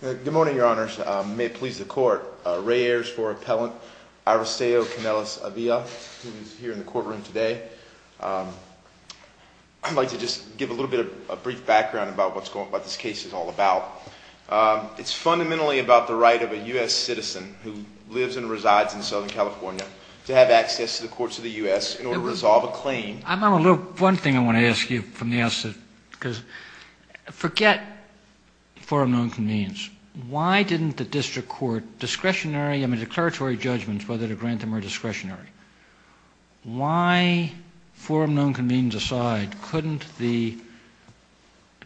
Good morning, your honors. May it please the court. Ray Ayers for Appellant Aristeo Canelis Avila, who is here in the courtroom today. I'd like to just give a little bit of a brief background about what this case is all about. It's fundamentally about the right of a U.S. citizen who lives and resides in Southern California to have access to the courts of the U.S. in order to resolve a claim. One thing I want to ask you from the outset, because forget forum known convenes. Why didn't the district court discretionary, I mean, declaratory judgments, whether to grant them or discretionary? Why, forum known convenes aside, couldn't the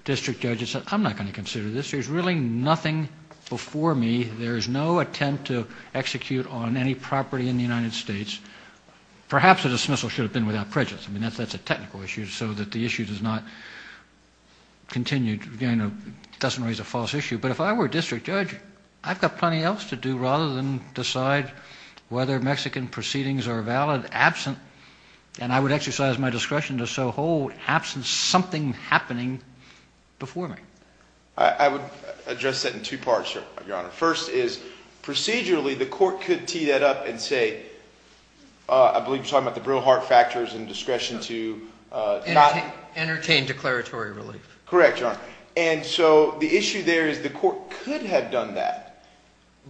district judge have said, I'm not going to consider this. There's really nothing before me. There is no attempt to execute on any property in the United States. Perhaps a dismissal should have been without prejudice. I mean, that's a technical issue. So that the issue does not continue, doesn't raise a false issue. But if I were a district judge, I've got plenty else to do rather than decide whether Mexican proceedings are valid, absent. And I would exercise my discretion to so hold, absent something happening before me. I would address that in two parts, Your Honor. First is procedurally the court could tee that up and say, I believe you're talking about the real heart factors and discretion to not. Entertain declaratory relief. Correct, Your Honor. And so the issue there is the court could have done that.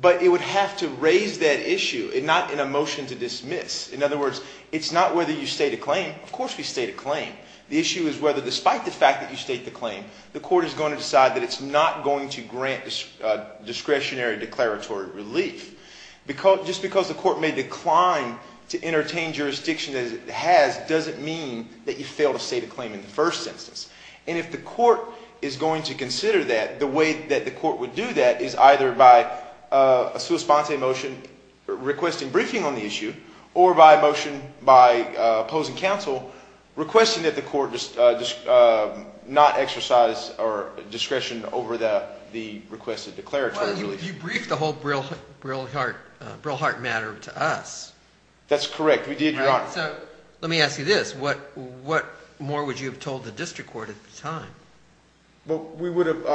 But it would have to raise that issue and not in a motion to dismiss. In other words, it's not whether you state a claim. Of course we state a claim. The issue is whether despite the fact that you state the claim, the court is going to decide that it's not going to grant discretionary declaratory relief. Just because the court may decline to entertain jurisdiction as it has, doesn't mean that you fail to state a claim in the first instance. And if the court is going to consider that, the way that the court would do that is either by a sua sponte motion requesting briefing on the issue. Or by a motion by opposing counsel requesting that the court not exercise discretion over the requested declaratory relief. Well, you briefed the whole real heart matter to us. That's correct. We did, Your Honor. So let me ask you this. What more would you have told the district court at the time? Well, we would have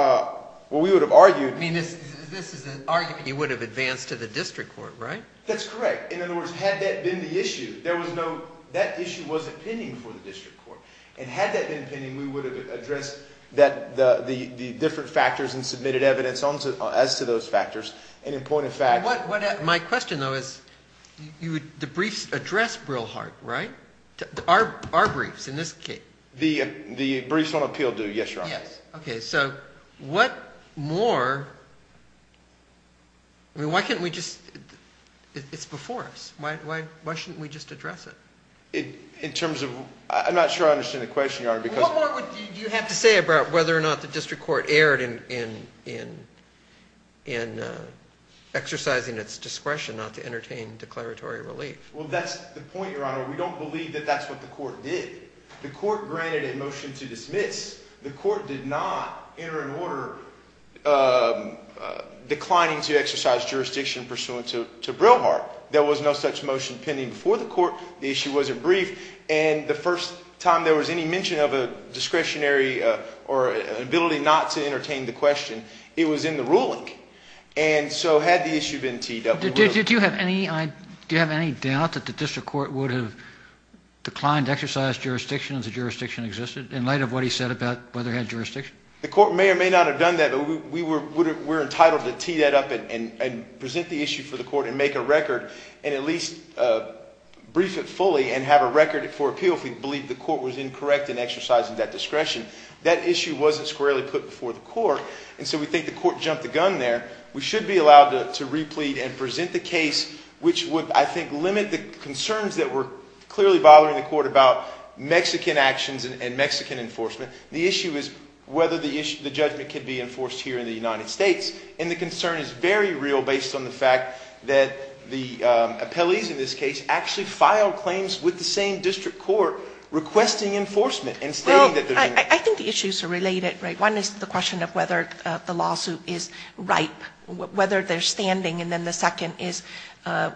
argued. I mean, this is an argument you would have advanced to the district court, right? That's correct. In other words, had that been the issue, there was no ‑‑ that issue wasn't pending before the district court. And had that been pending, we would have addressed the different factors and submitted evidence as to those factors. And in point of fact ‑‑ My question, though, is the briefs address real heart, right? Our briefs in this case. The briefs on appeal do, yes, Your Honor. Yes. Okay. So what more ‑‑ I mean, why can't we just ‑‑ it's before us. Why shouldn't we just address it? In terms of ‑‑ I'm not sure I understand the question, Your Honor. What more would you have to say about whether or not the district court erred in exercising its discretion not to entertain declaratory relief? Well, that's the point, Your Honor. We don't believe that that's what the court did. The court granted a motion to dismiss. The court did not enter an order declining to exercise jurisdiction pursuant to real heart. There was no such motion pending before the court. The issue wasn't brief. And the first time there was any mention of a discretionary or an ability not to entertain the question, it was in the ruling. And so had the issue been T.W. Do you have any ‑‑ do you have any doubt that the district court would have declined to exercise jurisdiction if the jurisdiction existed? In light of what he said about whether it had jurisdiction. The court may or may not have done that, but we were entitled to tee that up and present the issue for the court and make a record and at least brief it fully and have a record for appeal if we believe the court was incorrect in exercising that discretion. That issue wasn't squarely put before the court. And so we think the court jumped the gun there. We should be allowed to replete and present the case which would, I think, limit the concerns that were clearly bothering the court about Mexican actions and Mexican enforcement. The issue is whether the judgment could be enforced here in the United States. And the concern is very real based on the fact that the appellees in this case actually filed claims with the same district court requesting enforcement. Well, I think the issues are related. One is the question of whether the lawsuit is ripe, whether they're standing. And then the second is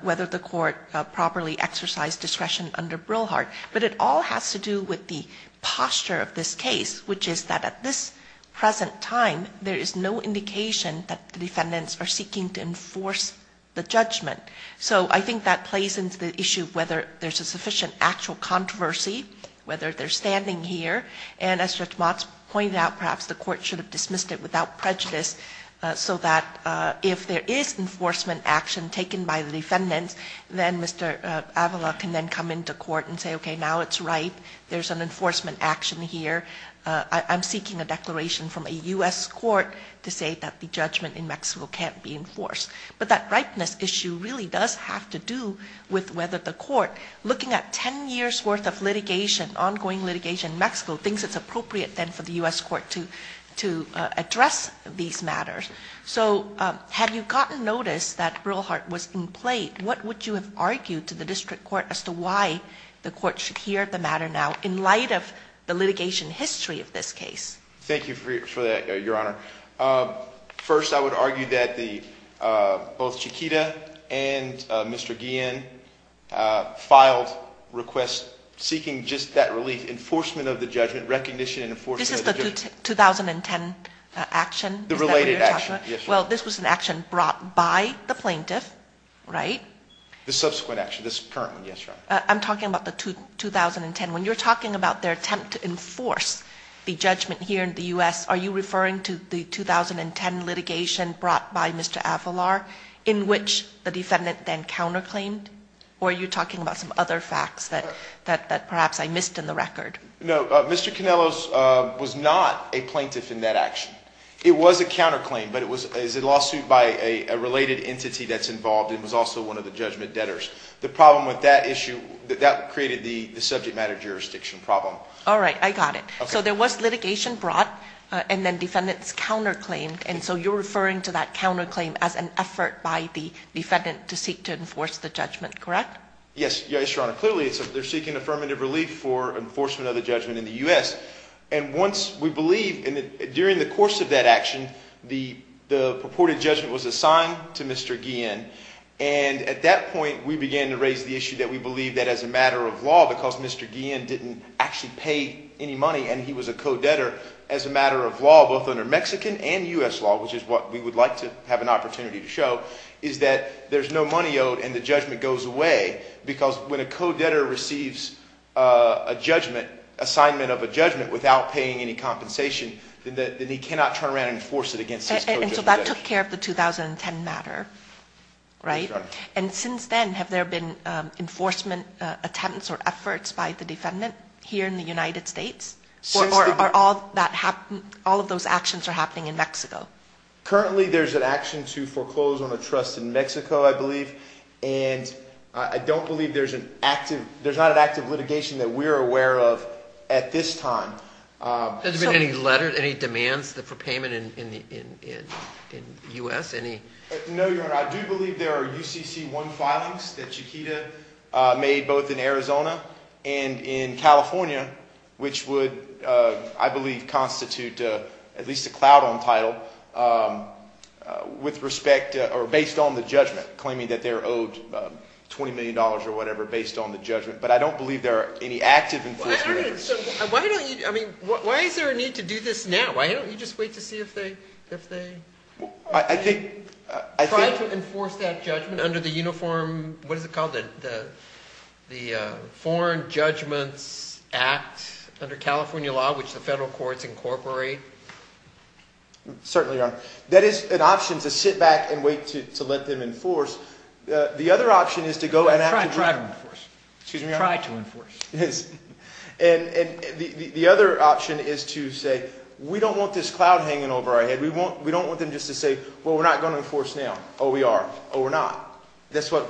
whether the court properly exercised discretion under Brilhart. But it all has to do with the posture of this case, which is that at this present time, there is no indication that the defendants are seeking to enforce the judgment. So I think that plays into the issue of whether there's a sufficient actual controversy, whether they're standing here. And as Judge Motz pointed out, perhaps the court should have dismissed it without prejudice so that if there is enforcement action taken by the defendants, then Mr. Avila can then come into court and say, okay, now it's ripe, there's an enforcement action here. I'm seeking a declaration from a U.S. court to say that the judgment in Mexico can't be enforced. But that ripeness issue really does have to do with whether the court, looking at ten years' worth of litigation, ongoing litigation in Mexico, thinks it's appropriate then for the U.S. court to address these matters. So had you gotten notice that Brilhart was in play, what would you have argued to the district court as to why the court should hear the matter now, in light of the litigation history of this case? Thank you for that, Your Honor. First, I would argue that both Chiquita and Mr. Guillen filed requests seeking just that relief, enforcement of the judgment, recognition and enforcement of the judgment. This is the 2010 action? The related action, yes, Your Honor. Well, this was an action brought by the plaintiff, right? The subsequent action, this current one, yes, Your Honor. I'm talking about the 2010. When you're talking about their attempt to enforce the judgment here in the U.S., are you referring to the 2010 litigation brought by Mr. Avalar in which the defendant then counterclaimed, or are you talking about some other facts that perhaps I missed in the record? No, Mr. Canellos was not a plaintiff in that action. It was a counterclaim, but it was a lawsuit by a related entity that's involved and was also one of the judgment debtors. The problem with that issue, that created the subject matter jurisdiction problem. All right, I got it. So there was litigation brought and then defendants counterclaimed, and so you're referring to that counterclaim as an effort by the defendant to seek to enforce the judgment, correct? Yes, Your Honor. Clearly they're seeking affirmative relief for enforcement of the judgment in the U.S., and once we believe, during the course of that action, the purported judgment was assigned to Mr. Guillen, and at that point we began to raise the issue that we believe that as a matter of law because Mr. Guillen didn't actually pay any money and he was a co-debtor as a matter of law both under Mexican and U.S. law, which is what we would like to have an opportunity to show, is that there's no money owed and the judgment goes away because when a co-debtor receives a judgment, assignment of a judgment, without paying any compensation, then he cannot turn around and enforce it against his co-judgment. And so that took care of the 2010 matter, right? And since then, have there been enforcement attempts or efforts by the defendant here in the United States? Or are all of those actions happening in Mexico? Currently there's an action to foreclose on a trust in Mexico, I believe, and I don't believe there's an active litigation that we're aware of at this time. Has there been any demands for payment in the U.S.? No, Your Honor. I do believe there are UCC-1 filings that Chiquita made both in Arizona and in California, which would, I believe, constitute at least a cloud on title based on the judgment, claiming that they're owed $20 million or whatever based on the judgment. But I don't believe there are any active enforcement efforts. Why is there a need to do this now? Why don't you just wait to see if they… I think… Try to enforce that judgment under the uniform, what is it called, the Foreign Judgments Act under California law, which the federal courts incorporate? Certainly, Your Honor. That is an option to sit back and wait to let them enforce. The other option is to go and… Try to enforce. Excuse me, Your Honor? Try to enforce. Yes. And the other option is to say, we don't want this cloud hanging over our head. We don't want them just to say, well, we're not going to enforce now. Oh, we are. Oh, we're not. That's what…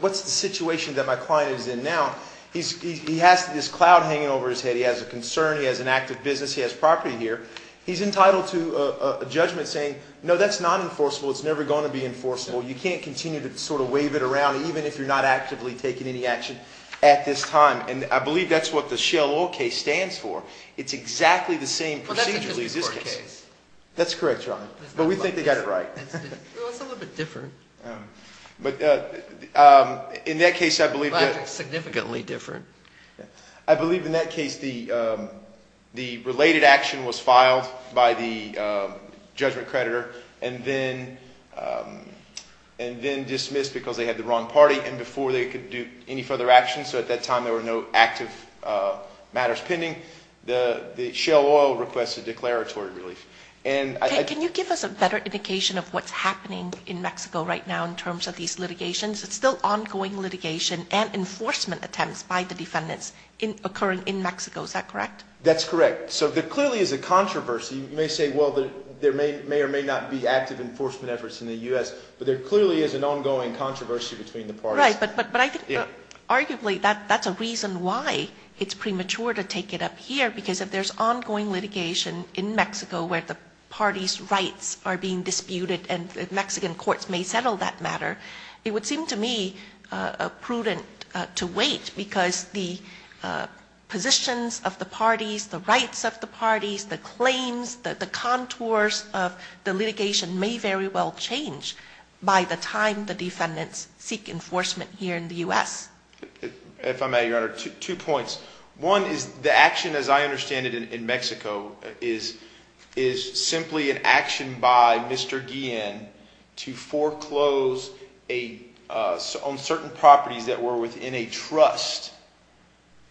What's the situation that my client is in now? He has this cloud hanging over his head. He has a concern. He has an active business. He has property here. He's entitled to a judgment saying, no, that's not enforceable. It's never going to be enforceable. You can't continue to sort of wave it around even if you're not actively taking any action at this time. And I believe that's what the Shell Oil case stands for. It's exactly the same procedurally as this case. That's correct, Your Honor. But we think they got it right. Well, it's a little bit different. But in that case, I believe… Significantly different. I believe in that case the related action was filed by the judgment creditor and then dismissed because they had the wrong party and before they could do any further action. So at that time, there were no active matters pending. Shell Oil requested declaratory relief. Can you give us a better indication of what's happening in Mexico right now in terms of these litigations? It's still ongoing litigation and enforcement attempts by the defendants occurring in Mexico. Is that correct? That's correct. So there clearly is a controversy. You may say, well, there may or may not be active enforcement efforts in the U.S. But there clearly is an ongoing controversy between the parties. Right, but I think arguably that's a reason why it's premature to take it up here because if there's ongoing litigation in Mexico where the parties' rights are being disputed and Mexican courts may settle that matter, it would seem to me prudent to wait because the positions of the parties, the rights of the parties, the claims, the contours of the litigation may very well change by the time the defendants seek enforcement here in the U.S. If I may, Your Honor, two points. One is the action, as I understand it, in Mexico is simply an action by Mr. Guillen to foreclose on certain properties that were within a trust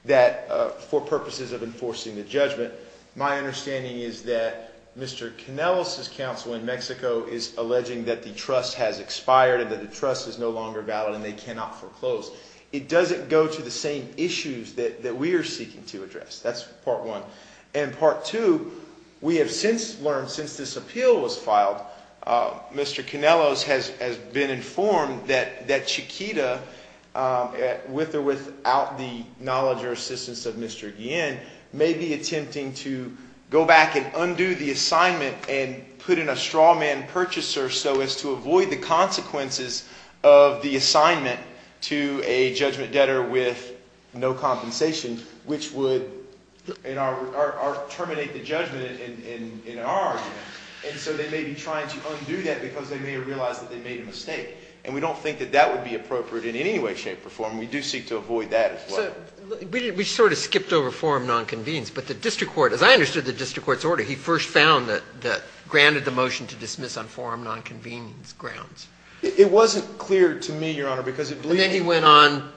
for purposes of enforcing the judgment. My understanding is that Mr. Canellos' counsel in Mexico is alleging that the trust has expired and that the trust is no longer valid and they cannot foreclose. It doesn't go to the same issues that we are seeking to address. That's part one. And part two, we have since learned, since this appeal was filed, Mr. Canellos has been informed that Chiquita, with or without the knowledge or assistance of Mr. Guillen, may be attempting to go back and undo the assignment and put in a straw man purchaser so as to avoid the consequences of the assignment to a judgment debtor with no compensation, which would terminate the judgment in our argument. And so they may be trying to undo that because they may have realized that they made a mistake. And we don't think that that would be appropriate in any way, shape, or form. We do seek to avoid that as well. We sort of skipped over forum nonconvenience. But the district court, as I understood the district court's order, he first found that granted the motion to dismiss on forum nonconvenience grounds. It wasn't clear to me, Your Honor, because it believed that... And then he went on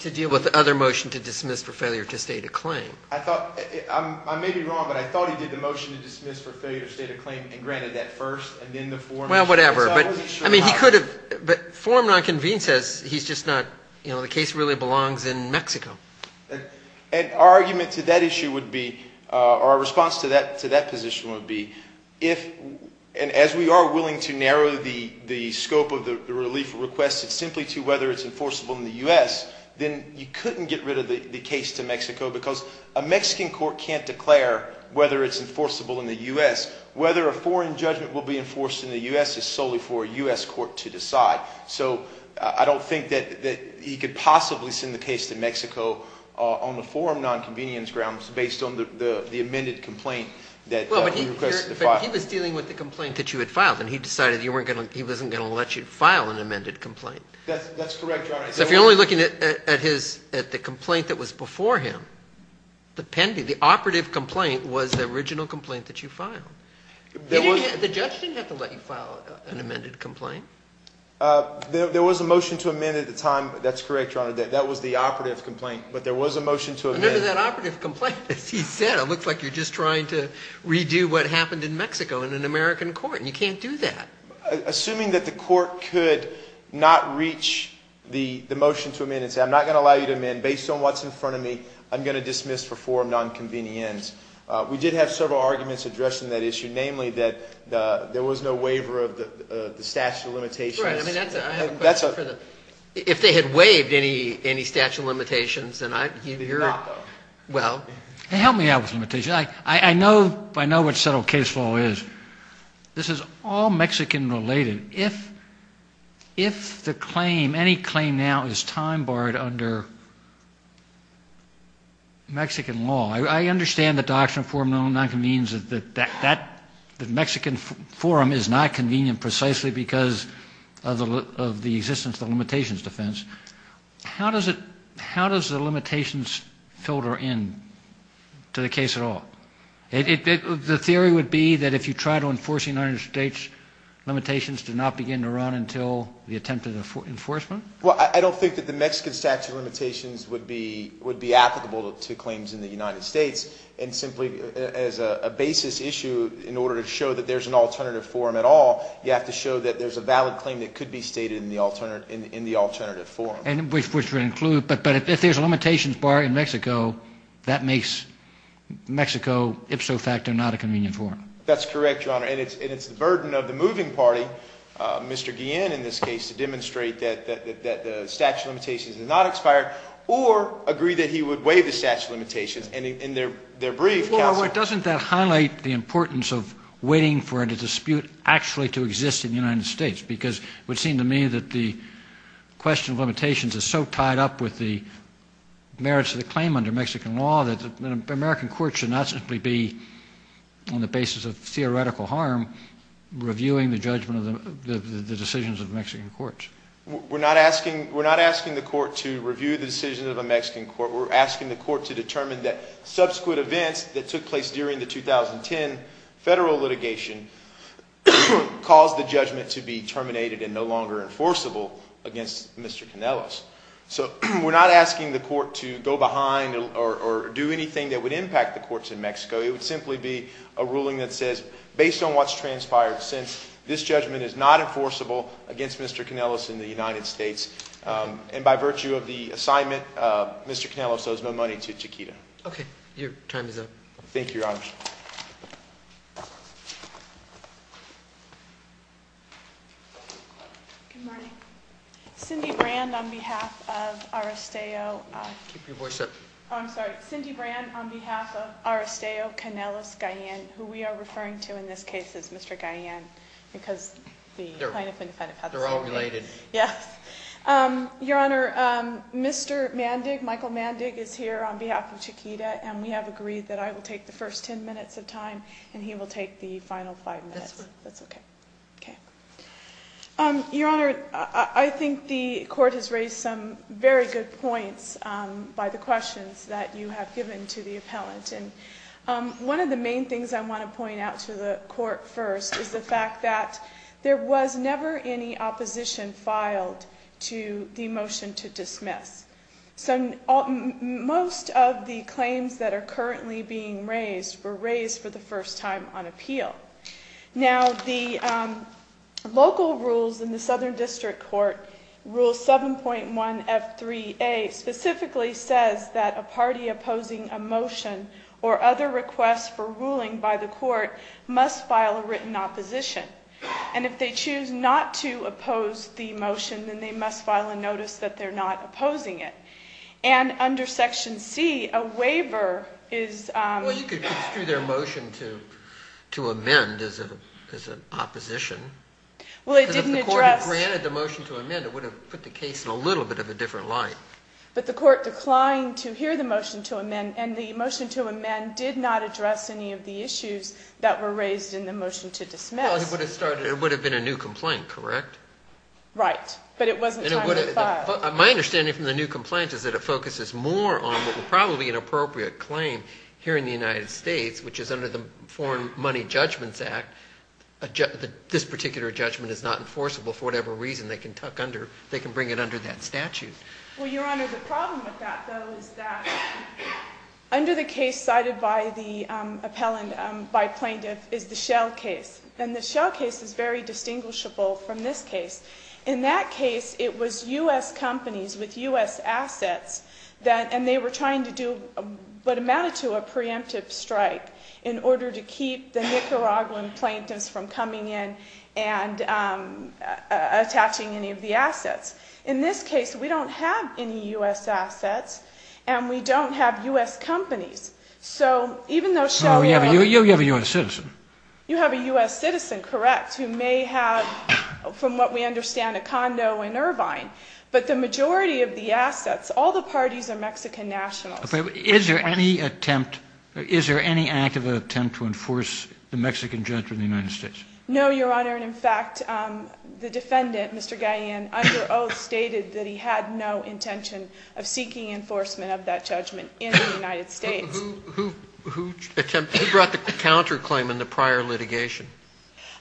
to deal with the other motion to dismiss for failure to state a claim. I may be wrong, but I thought he did the motion to dismiss for failure to state a claim and granted that first and then the forum... Well, whatever. I mean, he could have. But forum nonconvenience says he's just not, you know, the case really belongs in Mexico. And our argument to that issue would be, or our response to that position would be, if and as we are willing to narrow the scope of the relief request simply to whether it's enforceable in the U.S., then you couldn't get rid of the case to Mexico because a Mexican court can't declare whether it's enforceable in the U.S. Whether a foreign judgment will be enforced in the U.S. is solely for a U.S. court to decide. So I don't think that he could possibly send the case to Mexico on the forum nonconvenience grounds based on the amended complaint that we requested to file. But he was dealing with the complaint that you had filed, and he decided he wasn't going to let you file an amended complaint. That's correct, Your Honor. So if you're only looking at the complaint that was before him, the operative complaint was the original complaint that you filed. The judge didn't have to let you file an amended complaint. There was a motion to amend at the time. That's correct, Your Honor. That was the operative complaint. But there was a motion to amend. Remember that operative complaint. As he said, it looks like you're just trying to redo what happened in Mexico in an American court, and you can't do that. Assuming that the court could not reach the motion to amend and say, I'm not going to allow you to amend. Based on what's in front of me, I'm going to dismiss for forum nonconvenience. We did have several arguments addressing that issue, namely that there was no waiver of the statute of limitations. Right. I mean, that's a question for the ‑‑ if they had waived any statute of limitations, then I ‑‑ They did not, though. Well. Help me out with limitations. I know what settled case law is. This is all Mexican related. If the claim, any claim now, is time barred under Mexican law, I understand the doctrine of forum nonconvenience, that the Mexican forum is not convenient precisely because of the existence of the limitations defense. How does it ‑‑ how does the limitations filter in to the case at all? The theory would be that if you try to enforce the United States limitations, do not begin to run until the attempted enforcement? Well, I don't think that the Mexican statute of limitations would be applicable to claims in the United States, and simply as a basis issue, in order to show that there's an alternative forum at all, you have to show that there's a valid claim that could be stated in the alternative forum. But if there's a limitations bar in Mexico, that makes Mexico ipso facto not a convenient forum. That's correct, Your Honor. And it's the burden of the moving party, Mr. Guillen in this case, to demonstrate that the statute of limitations is not expired, or agree that he would waive the statute of limitations in their brief counsel. Well, doesn't that highlight the importance of waiting for a dispute actually to exist in the United States? Because it would seem to me that the question of limitations is so tied up with the merits of the claim under Mexican law that the American court should not simply be, on the basis of theoretical harm, reviewing the judgment of the decisions of the Mexican courts. We're not asking the court to review the decisions of a Mexican court. We're asking the court to determine that subsequent events that took place during the 2010 federal litigation caused the judgment to be terminated and no longer enforceable against Mr. Canellos. So we're not asking the court to go behind or do anything that would impact the courts in Mexico. It would simply be a ruling that says, based on what's transpired since, this judgment is not enforceable against Mr. Canellos in the United States. And by virtue of the assignment, Mr. Canellos owes no money to Chiquita. Thank you, Your Honor. Good morning. Cindy Brand on behalf of Arasteo. Keep your voice up. Oh, I'm sorry. Cindy Brand on behalf of Arasteo Canellos-Gaillan, who we are referring to in this case as Mr. Gaillan, because the plaintiff and defendant have the same name. They're all related. Yes. Your Honor, Mr. Mandig, Michael Mandig, is here on behalf of Chiquita, and we have agreed that I will take the first ten minutes of time and he will take the final five minutes. That's okay. Okay. Your Honor, I think the court has raised some very good points by the questions that you have given to the appellant. And one of the main things I want to point out to the court first is the fact that there was never any opposition filed to the motion to dismiss. So most of the claims that are currently being raised were raised for the first time on appeal. Now, the local rules in the Southern District Court, Rule 7.1F3A, specifically says that a party opposing a motion or other requests for ruling by the court must file a written opposition. And if they choose not to oppose the motion, then they must file a notice that they're not opposing it. And under Section C, a waiver is... Well, you could construe their motion to amend as an opposition. Well, it didn't address... Because if the court had granted the motion to amend, it would have put the case in a little bit of a different light. But the court declined to hear the motion to amend, and the motion to amend did not address any of the issues that were raised in the motion to dismiss. Well, it would have started... It would have been a new complaint, correct? Right, but it wasn't time to file. My understanding from the new complaint is that it focuses more on what would probably be an appropriate claim here in the United States, which is under the Foreign Money Judgments Act. This particular judgment is not enforceable for whatever reason. They can tuck under... They can bring it under that statute. Well, Your Honor, the problem with that, though, is that under the case cited by the appellant, by plaintiff, is the Shell case. And the Shell case is very distinguishable from this case. In that case, it was U.S. companies with U.S. assets that... And they were trying to do what amounted to a preemptive strike in order to keep the Nicaraguan plaintiffs from coming in and attaching any of the assets. In this case, we don't have any U.S. assets, and we don't have U.S. companies. So even though Shell... You have a U.S. citizen. You have a U.S. citizen, correct, who may have, from what we understand, a condo in Irvine. But the majority of the assets, all the parties are Mexican nationals. Is there any attempt... Is there any active attempt to enforce the Mexican judgment in the United States? No, Your Honor. And, in fact, the defendant, Mr. Gayan, under oath stated that he had no intention of seeking enforcement of that judgment in the United States. Who brought the counterclaim in the prior litigation?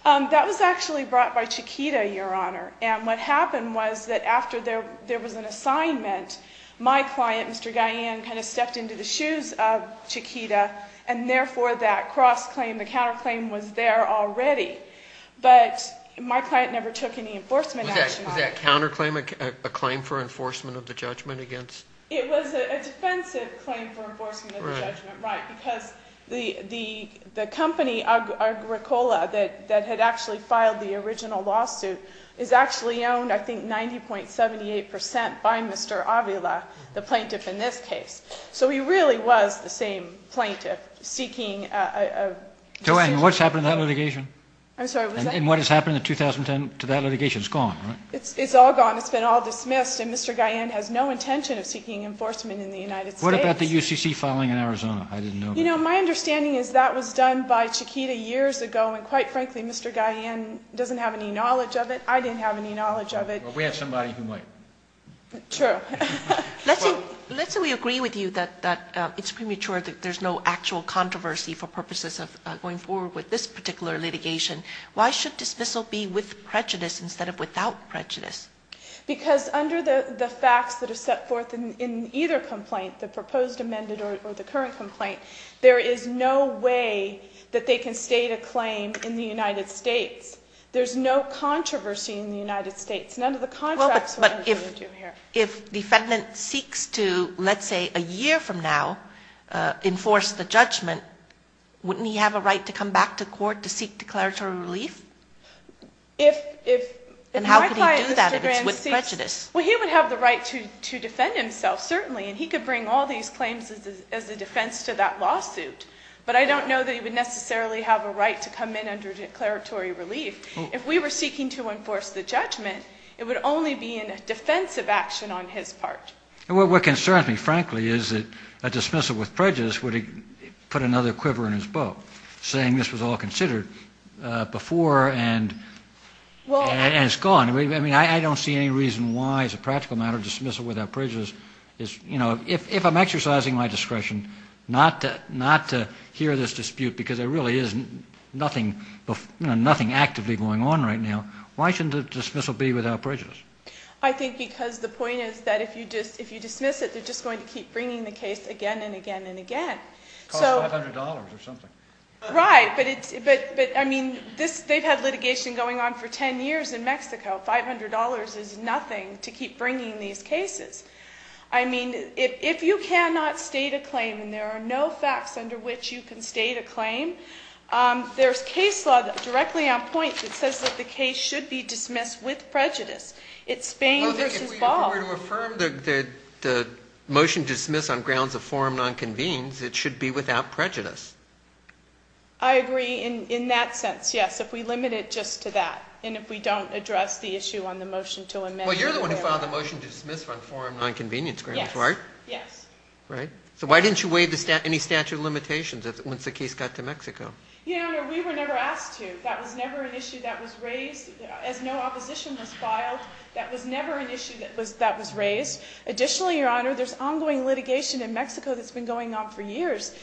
That was actually brought by Chiquita, Your Honor. And what happened was that after there was an assignment, my client, Mr. Gayan, kind of stepped into the shoes of Chiquita, and therefore that cross-claim, the counterclaim was there already. But my client never took any enforcement action on it. Was that counterclaim a claim for enforcement of the judgment against... It was a defensive claim for enforcement of the judgment, right, because the company, Agricola, that had actually filed the original lawsuit, is actually owned, I think, 90.78 percent by Mr. Avila, the plaintiff in this case. So he really was the same plaintiff seeking a... Joanne, what's happened to that litigation? I'm sorry, was I... And what has happened in 2010 to that litigation? It's gone, right? It's all gone. It's been all dismissed, and Mr. Gayan has no intention of seeking enforcement in the United States. What about the UCC filing in Arizona? I didn't know... You know, my understanding is that was done by Chiquita years ago, and, quite frankly, Mr. Gayan doesn't have any knowledge of it. I didn't have any knowledge of it. Well, we have somebody who might. True. Let's say we agree with you that it's premature that there's no actual controversy for purposes of going forward with this particular litigation. Why should dismissal be with prejudice instead of without prejudice? Because under the facts that are set forth in either complaint, the proposed, amended, or the current complaint, there is no way that they can state a claim in the United States. There's no controversy in the United States. None of the contracts... But if defendant seeks to, let's say, a year from now, enforce the judgment, wouldn't he have a right to come back to court to seek declaratory relief? If my client, Mr. Gayan, seeks... And how could he do that if it's with prejudice? Well, he would have the right to defend himself, certainly, and he could bring all these claims as a defense to that lawsuit. But I don't know that he would necessarily have a right to come in under declaratory relief. If we were seeking to enforce the judgment, it would only be in a defensive action on his part. What concerns me, frankly, is that a dismissal with prejudice would put another quiver in his boat, saying this was all considered before and it's gone. I mean, I don't see any reason why, as a practical matter, dismissal without prejudice is... If I'm exercising my discretion not to hear this dispute because there really is nothing actively going on right now, why shouldn't a dismissal be without prejudice? I think because the point is that if you dismiss it, they're just going to keep bringing the case again and again and again. It costs $500 or something. Right, but I mean, they've had litigation going on for 10 years in Mexico. $500 is nothing to keep bringing these cases. I mean, if you cannot state a claim and there are no facts under which you can state a claim, there's case law directly on point that says that the case should be dismissed with prejudice. It's Spain versus Ball. If we were to affirm the motion to dismiss on grounds of forum nonconvenes, it should be without prejudice. I agree in that sense, yes, if we limit it just to that. And if we don't address the issue on the motion to amend... Well, you're the one who filed the motion to dismiss on forum nonconvenience grounds, right? Yes. Right. So why didn't you waive any statute of limitations once the case got to Mexico? Your Honor, we were never asked to. That was never an issue that was raised. As no opposition was filed, that was never an issue that was raised. Additionally, Your Honor, there's ongoing litigation in Mexico that's been going on for years.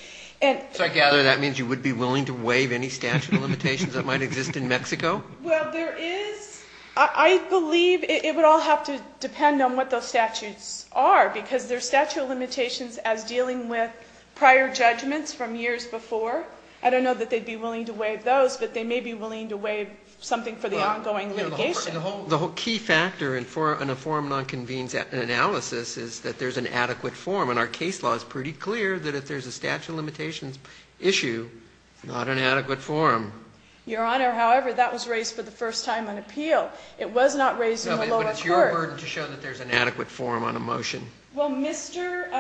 So I gather that means you would be willing to waive any statute of limitations that might exist in Mexico? Well, there is... I believe it would all have to depend on what those statutes are because there's statute of limitations as dealing with prior judgments from years before. I don't know that they'd be willing to waive those, but they may be willing to waive something for the ongoing litigation. The whole key factor in a forum nonconvenes analysis is that there's an adequate forum. And our case law is pretty clear that if there's a statute of limitations issue, not an adequate forum. Your Honor, however, that was raised for the first time on appeal. It was not raised in the lower court. No, but it's your burden to show that there's an adequate forum on a motion. Well, Mr.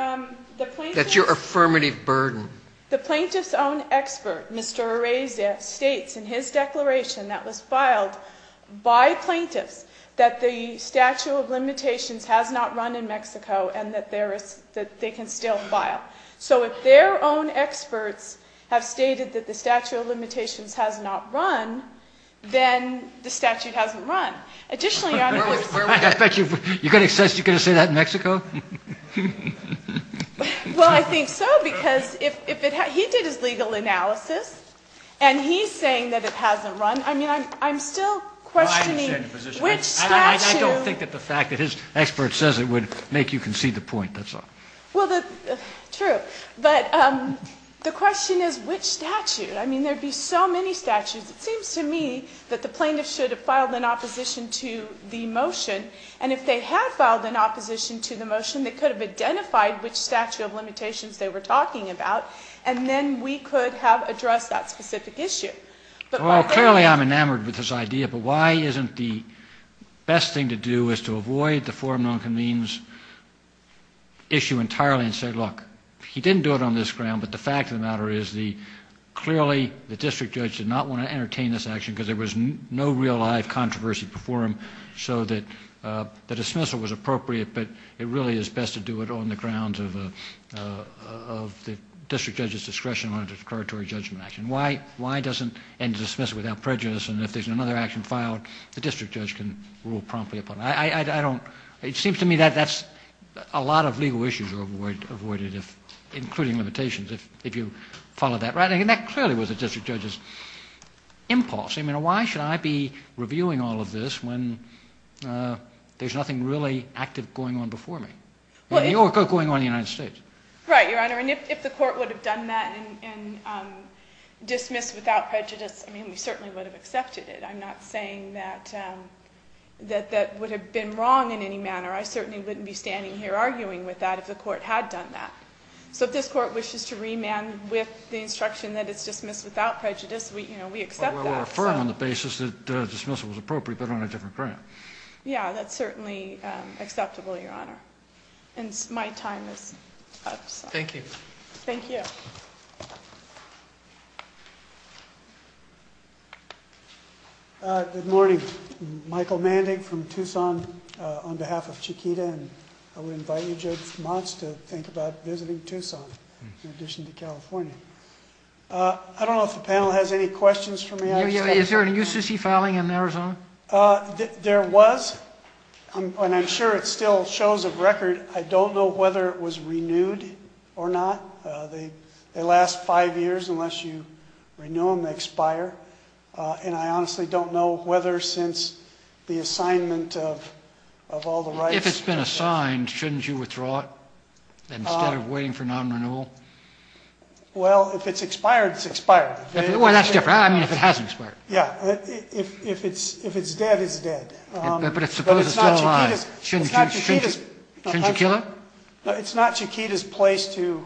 the plaintiff's... That's your affirmative burden. The plaintiff's own expert, Mr. Arezia, states in his declaration that was filed by plaintiffs that the statute of limitations has not run in Mexico and that they can still file. So if their own experts have stated that the statute of limitations has not run, then the statute hasn't run. Additionally, Your Honor... You're going to say that in Mexico? Well, I think so because if it has... He did his legal analysis and he's saying that it hasn't run. I mean, I'm still questioning which statute... I don't think that the fact that his expert says it would make you concede the point. Well, true, but the question is which statute. I mean, there would be so many statutes. It seems to me that the plaintiff should have filed in opposition to the motion, and if they had filed in opposition to the motion, they could have identified which statute of limitations they were talking about, and then we could have addressed that specific issue. Well, clearly I'm enamored with this idea, but why isn't the best thing to do is to avoid the forum non-convenes issue entirely and say, look, he didn't do it on this ground, but the fact of the matter is clearly the district judge did not want to entertain this action because there was no real-life controversy before him, so the dismissal was appropriate, but it really is best to do it on the grounds of the district judge's discretion on a declaratory judgment action. Why doesn't end the dismissal without prejudice and if there's another action filed the district judge can rule promptly upon it? It seems to me that a lot of legal issues are avoided, including limitations, if you follow that. That clearly was a district judge's impulse. I mean, why should I be reviewing all of this when there's nothing really active going on before me? In New York or going on in the United States. Right, Your Honor, and if the court would have done that and dismissed without prejudice, I mean, we certainly would have accepted it. I'm not saying that that would have been wrong in any manner. I certainly wouldn't be standing here arguing with that if the court had done that. So if this court wishes to remand with the instruction that it's dismissed without prejudice, we accept that. Well, we'll affirm on the basis that dismissal was appropriate but on a different ground. Yeah, that's certainly acceptable, Your Honor. And my time is up. Thank you. Thank you. Good morning. Michael Mandig from Tucson on behalf of Chiquita, and I would invite you, Judge Motz, to think about visiting Tucson in addition to California. I don't know if the panel has any questions for me. Is there an UCC filing in Arizona? There was, and I'm sure it still shows a record. I don't know whether it was renewed or not. They last five years. Unless you renew them, they expire. And I honestly don't know whether since the assignment of all the rights. If it's been assigned, shouldn't you withdraw it instead of waiting for non-renewal? Well, if it's expired, it's expired. Well, that's different. I mean, if it hasn't expired. Yeah. If it's dead, it's dead. But suppose it's still alive. Shouldn't you kill it? It's not Chiquita's place to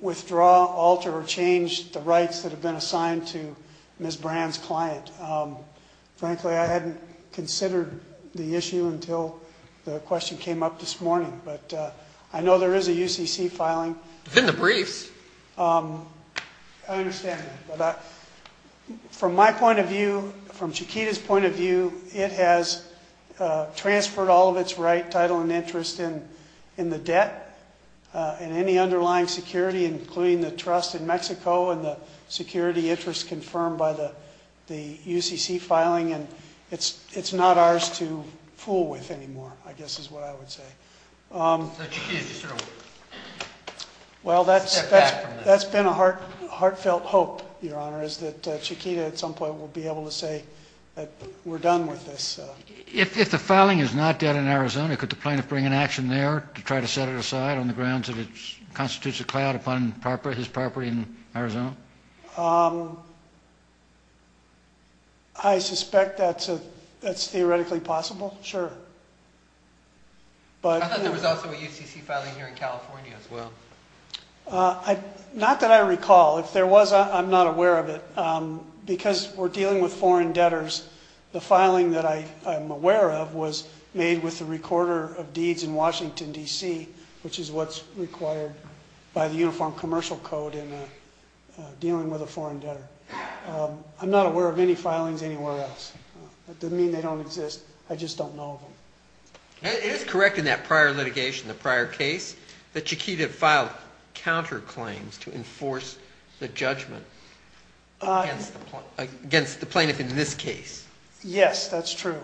withdraw, alter, or change the rights that have been assigned to Ms. Brand's client. Frankly, I hadn't considered the issue until the question came up this morning. But I know there is a UCC filing. It's in the briefs. I understand that. From my point of view, from Chiquita's point of view, it has transferred all of its right, title, and interest in the debt and any underlying security, including the trust in Mexico and the security interest confirmed by the UCC filing. And it's not ours to fool with anymore, I guess is what I would say. So Chiquita's just sort of stepped back from this. That's been a heartfelt hope, Your Honor, is that Chiquita at some point will be able to say that we're done with this. If the filing is not dead in Arizona, could the plaintiff bring an action there to try to set it aside on the grounds that it constitutes a cloud upon his property in Arizona? I suspect that's theoretically possible, sure. I thought there was also a UCC filing here in California as well. Not that I recall. If there was, I'm not aware of it. Because we're dealing with foreign debtors, the filing that I'm aware of was made with the recorder of deeds in Washington, D.C., which is what's required by the Uniform Commercial Code in dealing with a foreign debtor. I'm not aware of any filings anywhere else. That doesn't mean they don't exist. I just don't know of them. It is correct in that prior litigation, the prior case, that Chiquita filed counterclaims to enforce the judgment against the plaintiff in this case. Yes, that's true.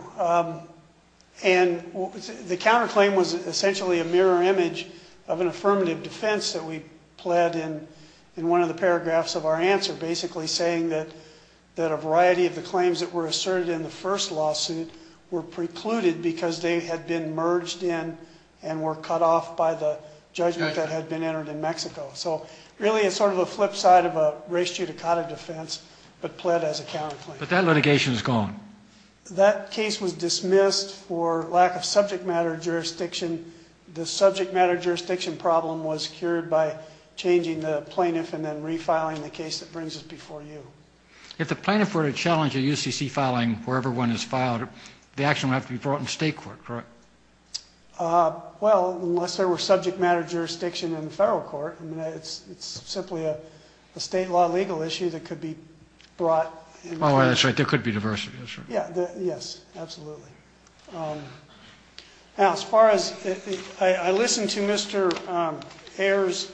And the counterclaim was essentially a mirror image of an affirmative defense that we pled in one of the paragraphs of our answer, basically saying that a variety of the claims that were asserted in the first lawsuit were precluded because they had been merged in and were cut off by the judgment that had been entered in Mexico. So really it's sort of a flip side of a res judicata defense, but pled as a counterclaim. But that litigation is gone. That case was dismissed for lack of subject matter jurisdiction. The subject matter jurisdiction problem was cured by changing the plaintiff and then refiling the case that brings us before you. If the plaintiff were to challenge a UCC filing wherever one is filed, the action would have to be brought in state court, correct? Well, unless there were subject matter jurisdiction in the federal court. It's simply a state law legal issue that could be brought. Oh, that's right. There could be diversity. Yes, absolutely. Now, as far as I listen to Mr. Ayer's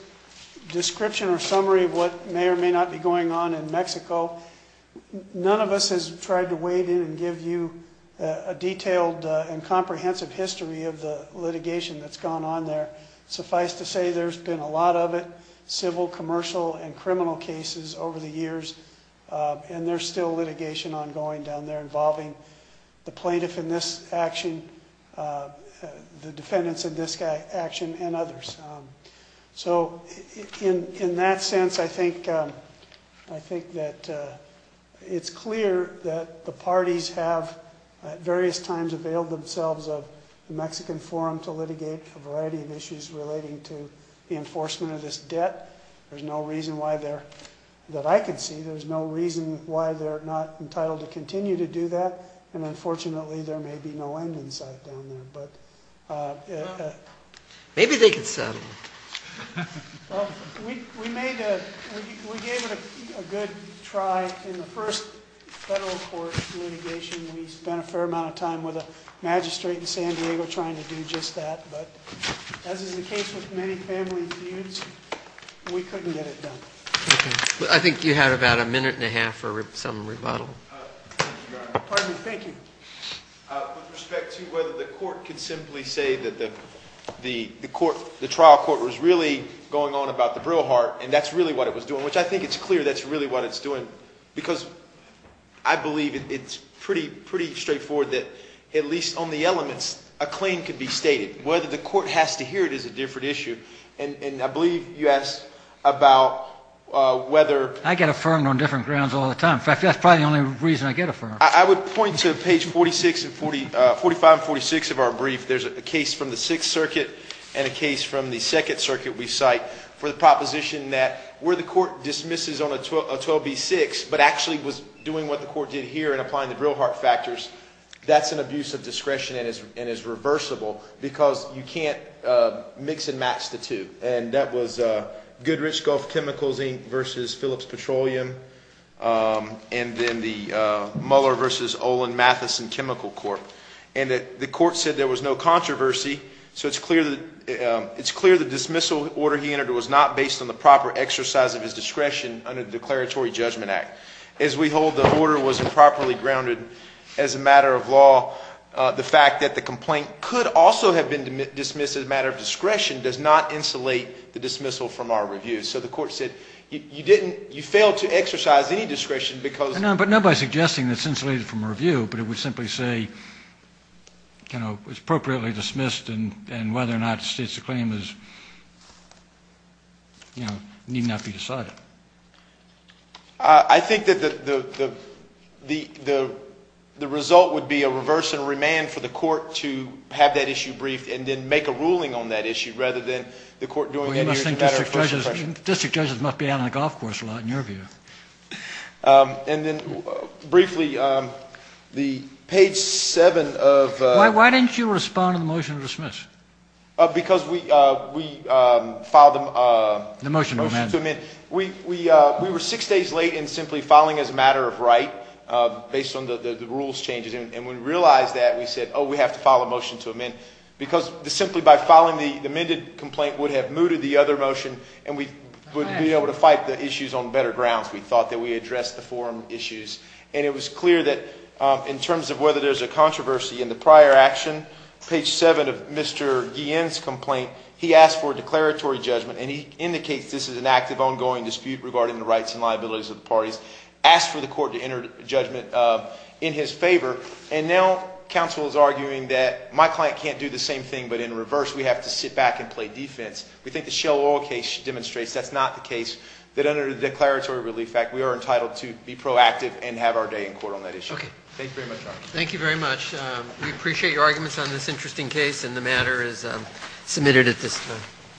description or summary of what may or may not be going on in Mexico, none of us has tried to wade in and give you a detailed and comprehensive history of the litigation that's gone on there. Suffice to say, there's been a lot of it, civil, commercial and criminal cases over the years. And there's still litigation ongoing down there involving the plaintiff in this action, the defendants of this action and others. So in that sense, I think that it's clear that the parties have at various times availed themselves of the Mexican forum to litigate a variety of issues relating to the enforcement of this debt. There's no reason why they're, that I can see, there's no reason why they're not entitled to continue to do that. And unfortunately, there may be no end in sight down there. Maybe they can settle it. We made a, we gave it a good try in the first federal court litigation. We spent a fair amount of time with a magistrate in San Diego trying to do just that. But as is the case with many family feuds, we couldn't get it done. I think you had about a minute and a half for some rebuttal. Pardon me, thank you. With respect to whether the court can simply say that the trial court was really going on about the Brillhart and that's really what it was doing, which I think it's clear that's really what it's doing. Because I believe it's pretty straightforward that at least on the elements, a claim can be stated. Whether the court has to hear it is a different issue. And I believe you asked about whether- I get affirmed on different grounds all the time. In fact, that's probably the only reason I get affirmed. I would point to page 45 and 46 of our brief. There's a case from the Sixth Circuit and a case from the Second Circuit we cite for the proposition that where the court dismisses on a 12B6, but actually was doing what the court did here and applying the Brillhart factors, that's an abuse of discretion and is reversible. Because you can't mix and match the two. And that was Goodrich, Gulf Chemicals, Inc. versus Phillips Petroleum. And then the Mueller versus Olin Mathison Chemical Court. And the court said there was no controversy. So it's clear the dismissal order he entered was not based on the proper exercise of his discretion under the Declaratory Judgment Act. As we hold the order was improperly grounded as a matter of law, the fact that the complaint could also have been dismissed as a matter of discretion does not insulate the dismissal from our review. So the court said you failed to exercise any discretion because- But not by suggesting that it's insulated from review, but it would simply say it was appropriately dismissed and whether or not the state's claim need not be decided. I think that the result would be a reverse and remand for the court to have that issue briefed and then make a ruling on that issue rather than the court doing- I think district judges must be out on the golf course a lot in your view. And then briefly, the page 7 of- Why didn't you respond to the motion to dismiss? Because we filed a motion to amend. We were six days late in simply filing as a matter of right based on the rules changes. And when we realized that, we said, oh, we have to file a motion to amend. Because simply by filing the amended complaint would have mooted the other motion and we wouldn't be able to fight the issues on better grounds. We thought that we addressed the forum issues. And it was clear that in terms of whether there's a controversy in the prior action, page 7 of Mr. Guillen's complaint, he asked for a declaratory judgment. And he indicates this is an active, ongoing dispute regarding the rights and liabilities of the parties. Asked for the court to enter judgment in his favor. And now counsel is arguing that my client can't do the same thing, but in reverse, we have to sit back and play defense. We think the Shell Oil case demonstrates that's not the case. That under the declaratory relief act, we are entitled to be proactive and have our day in court on that issue. Thank you very much. Thank you very much. We appreciate your arguments on this interesting case, and the matter is submitted at this time.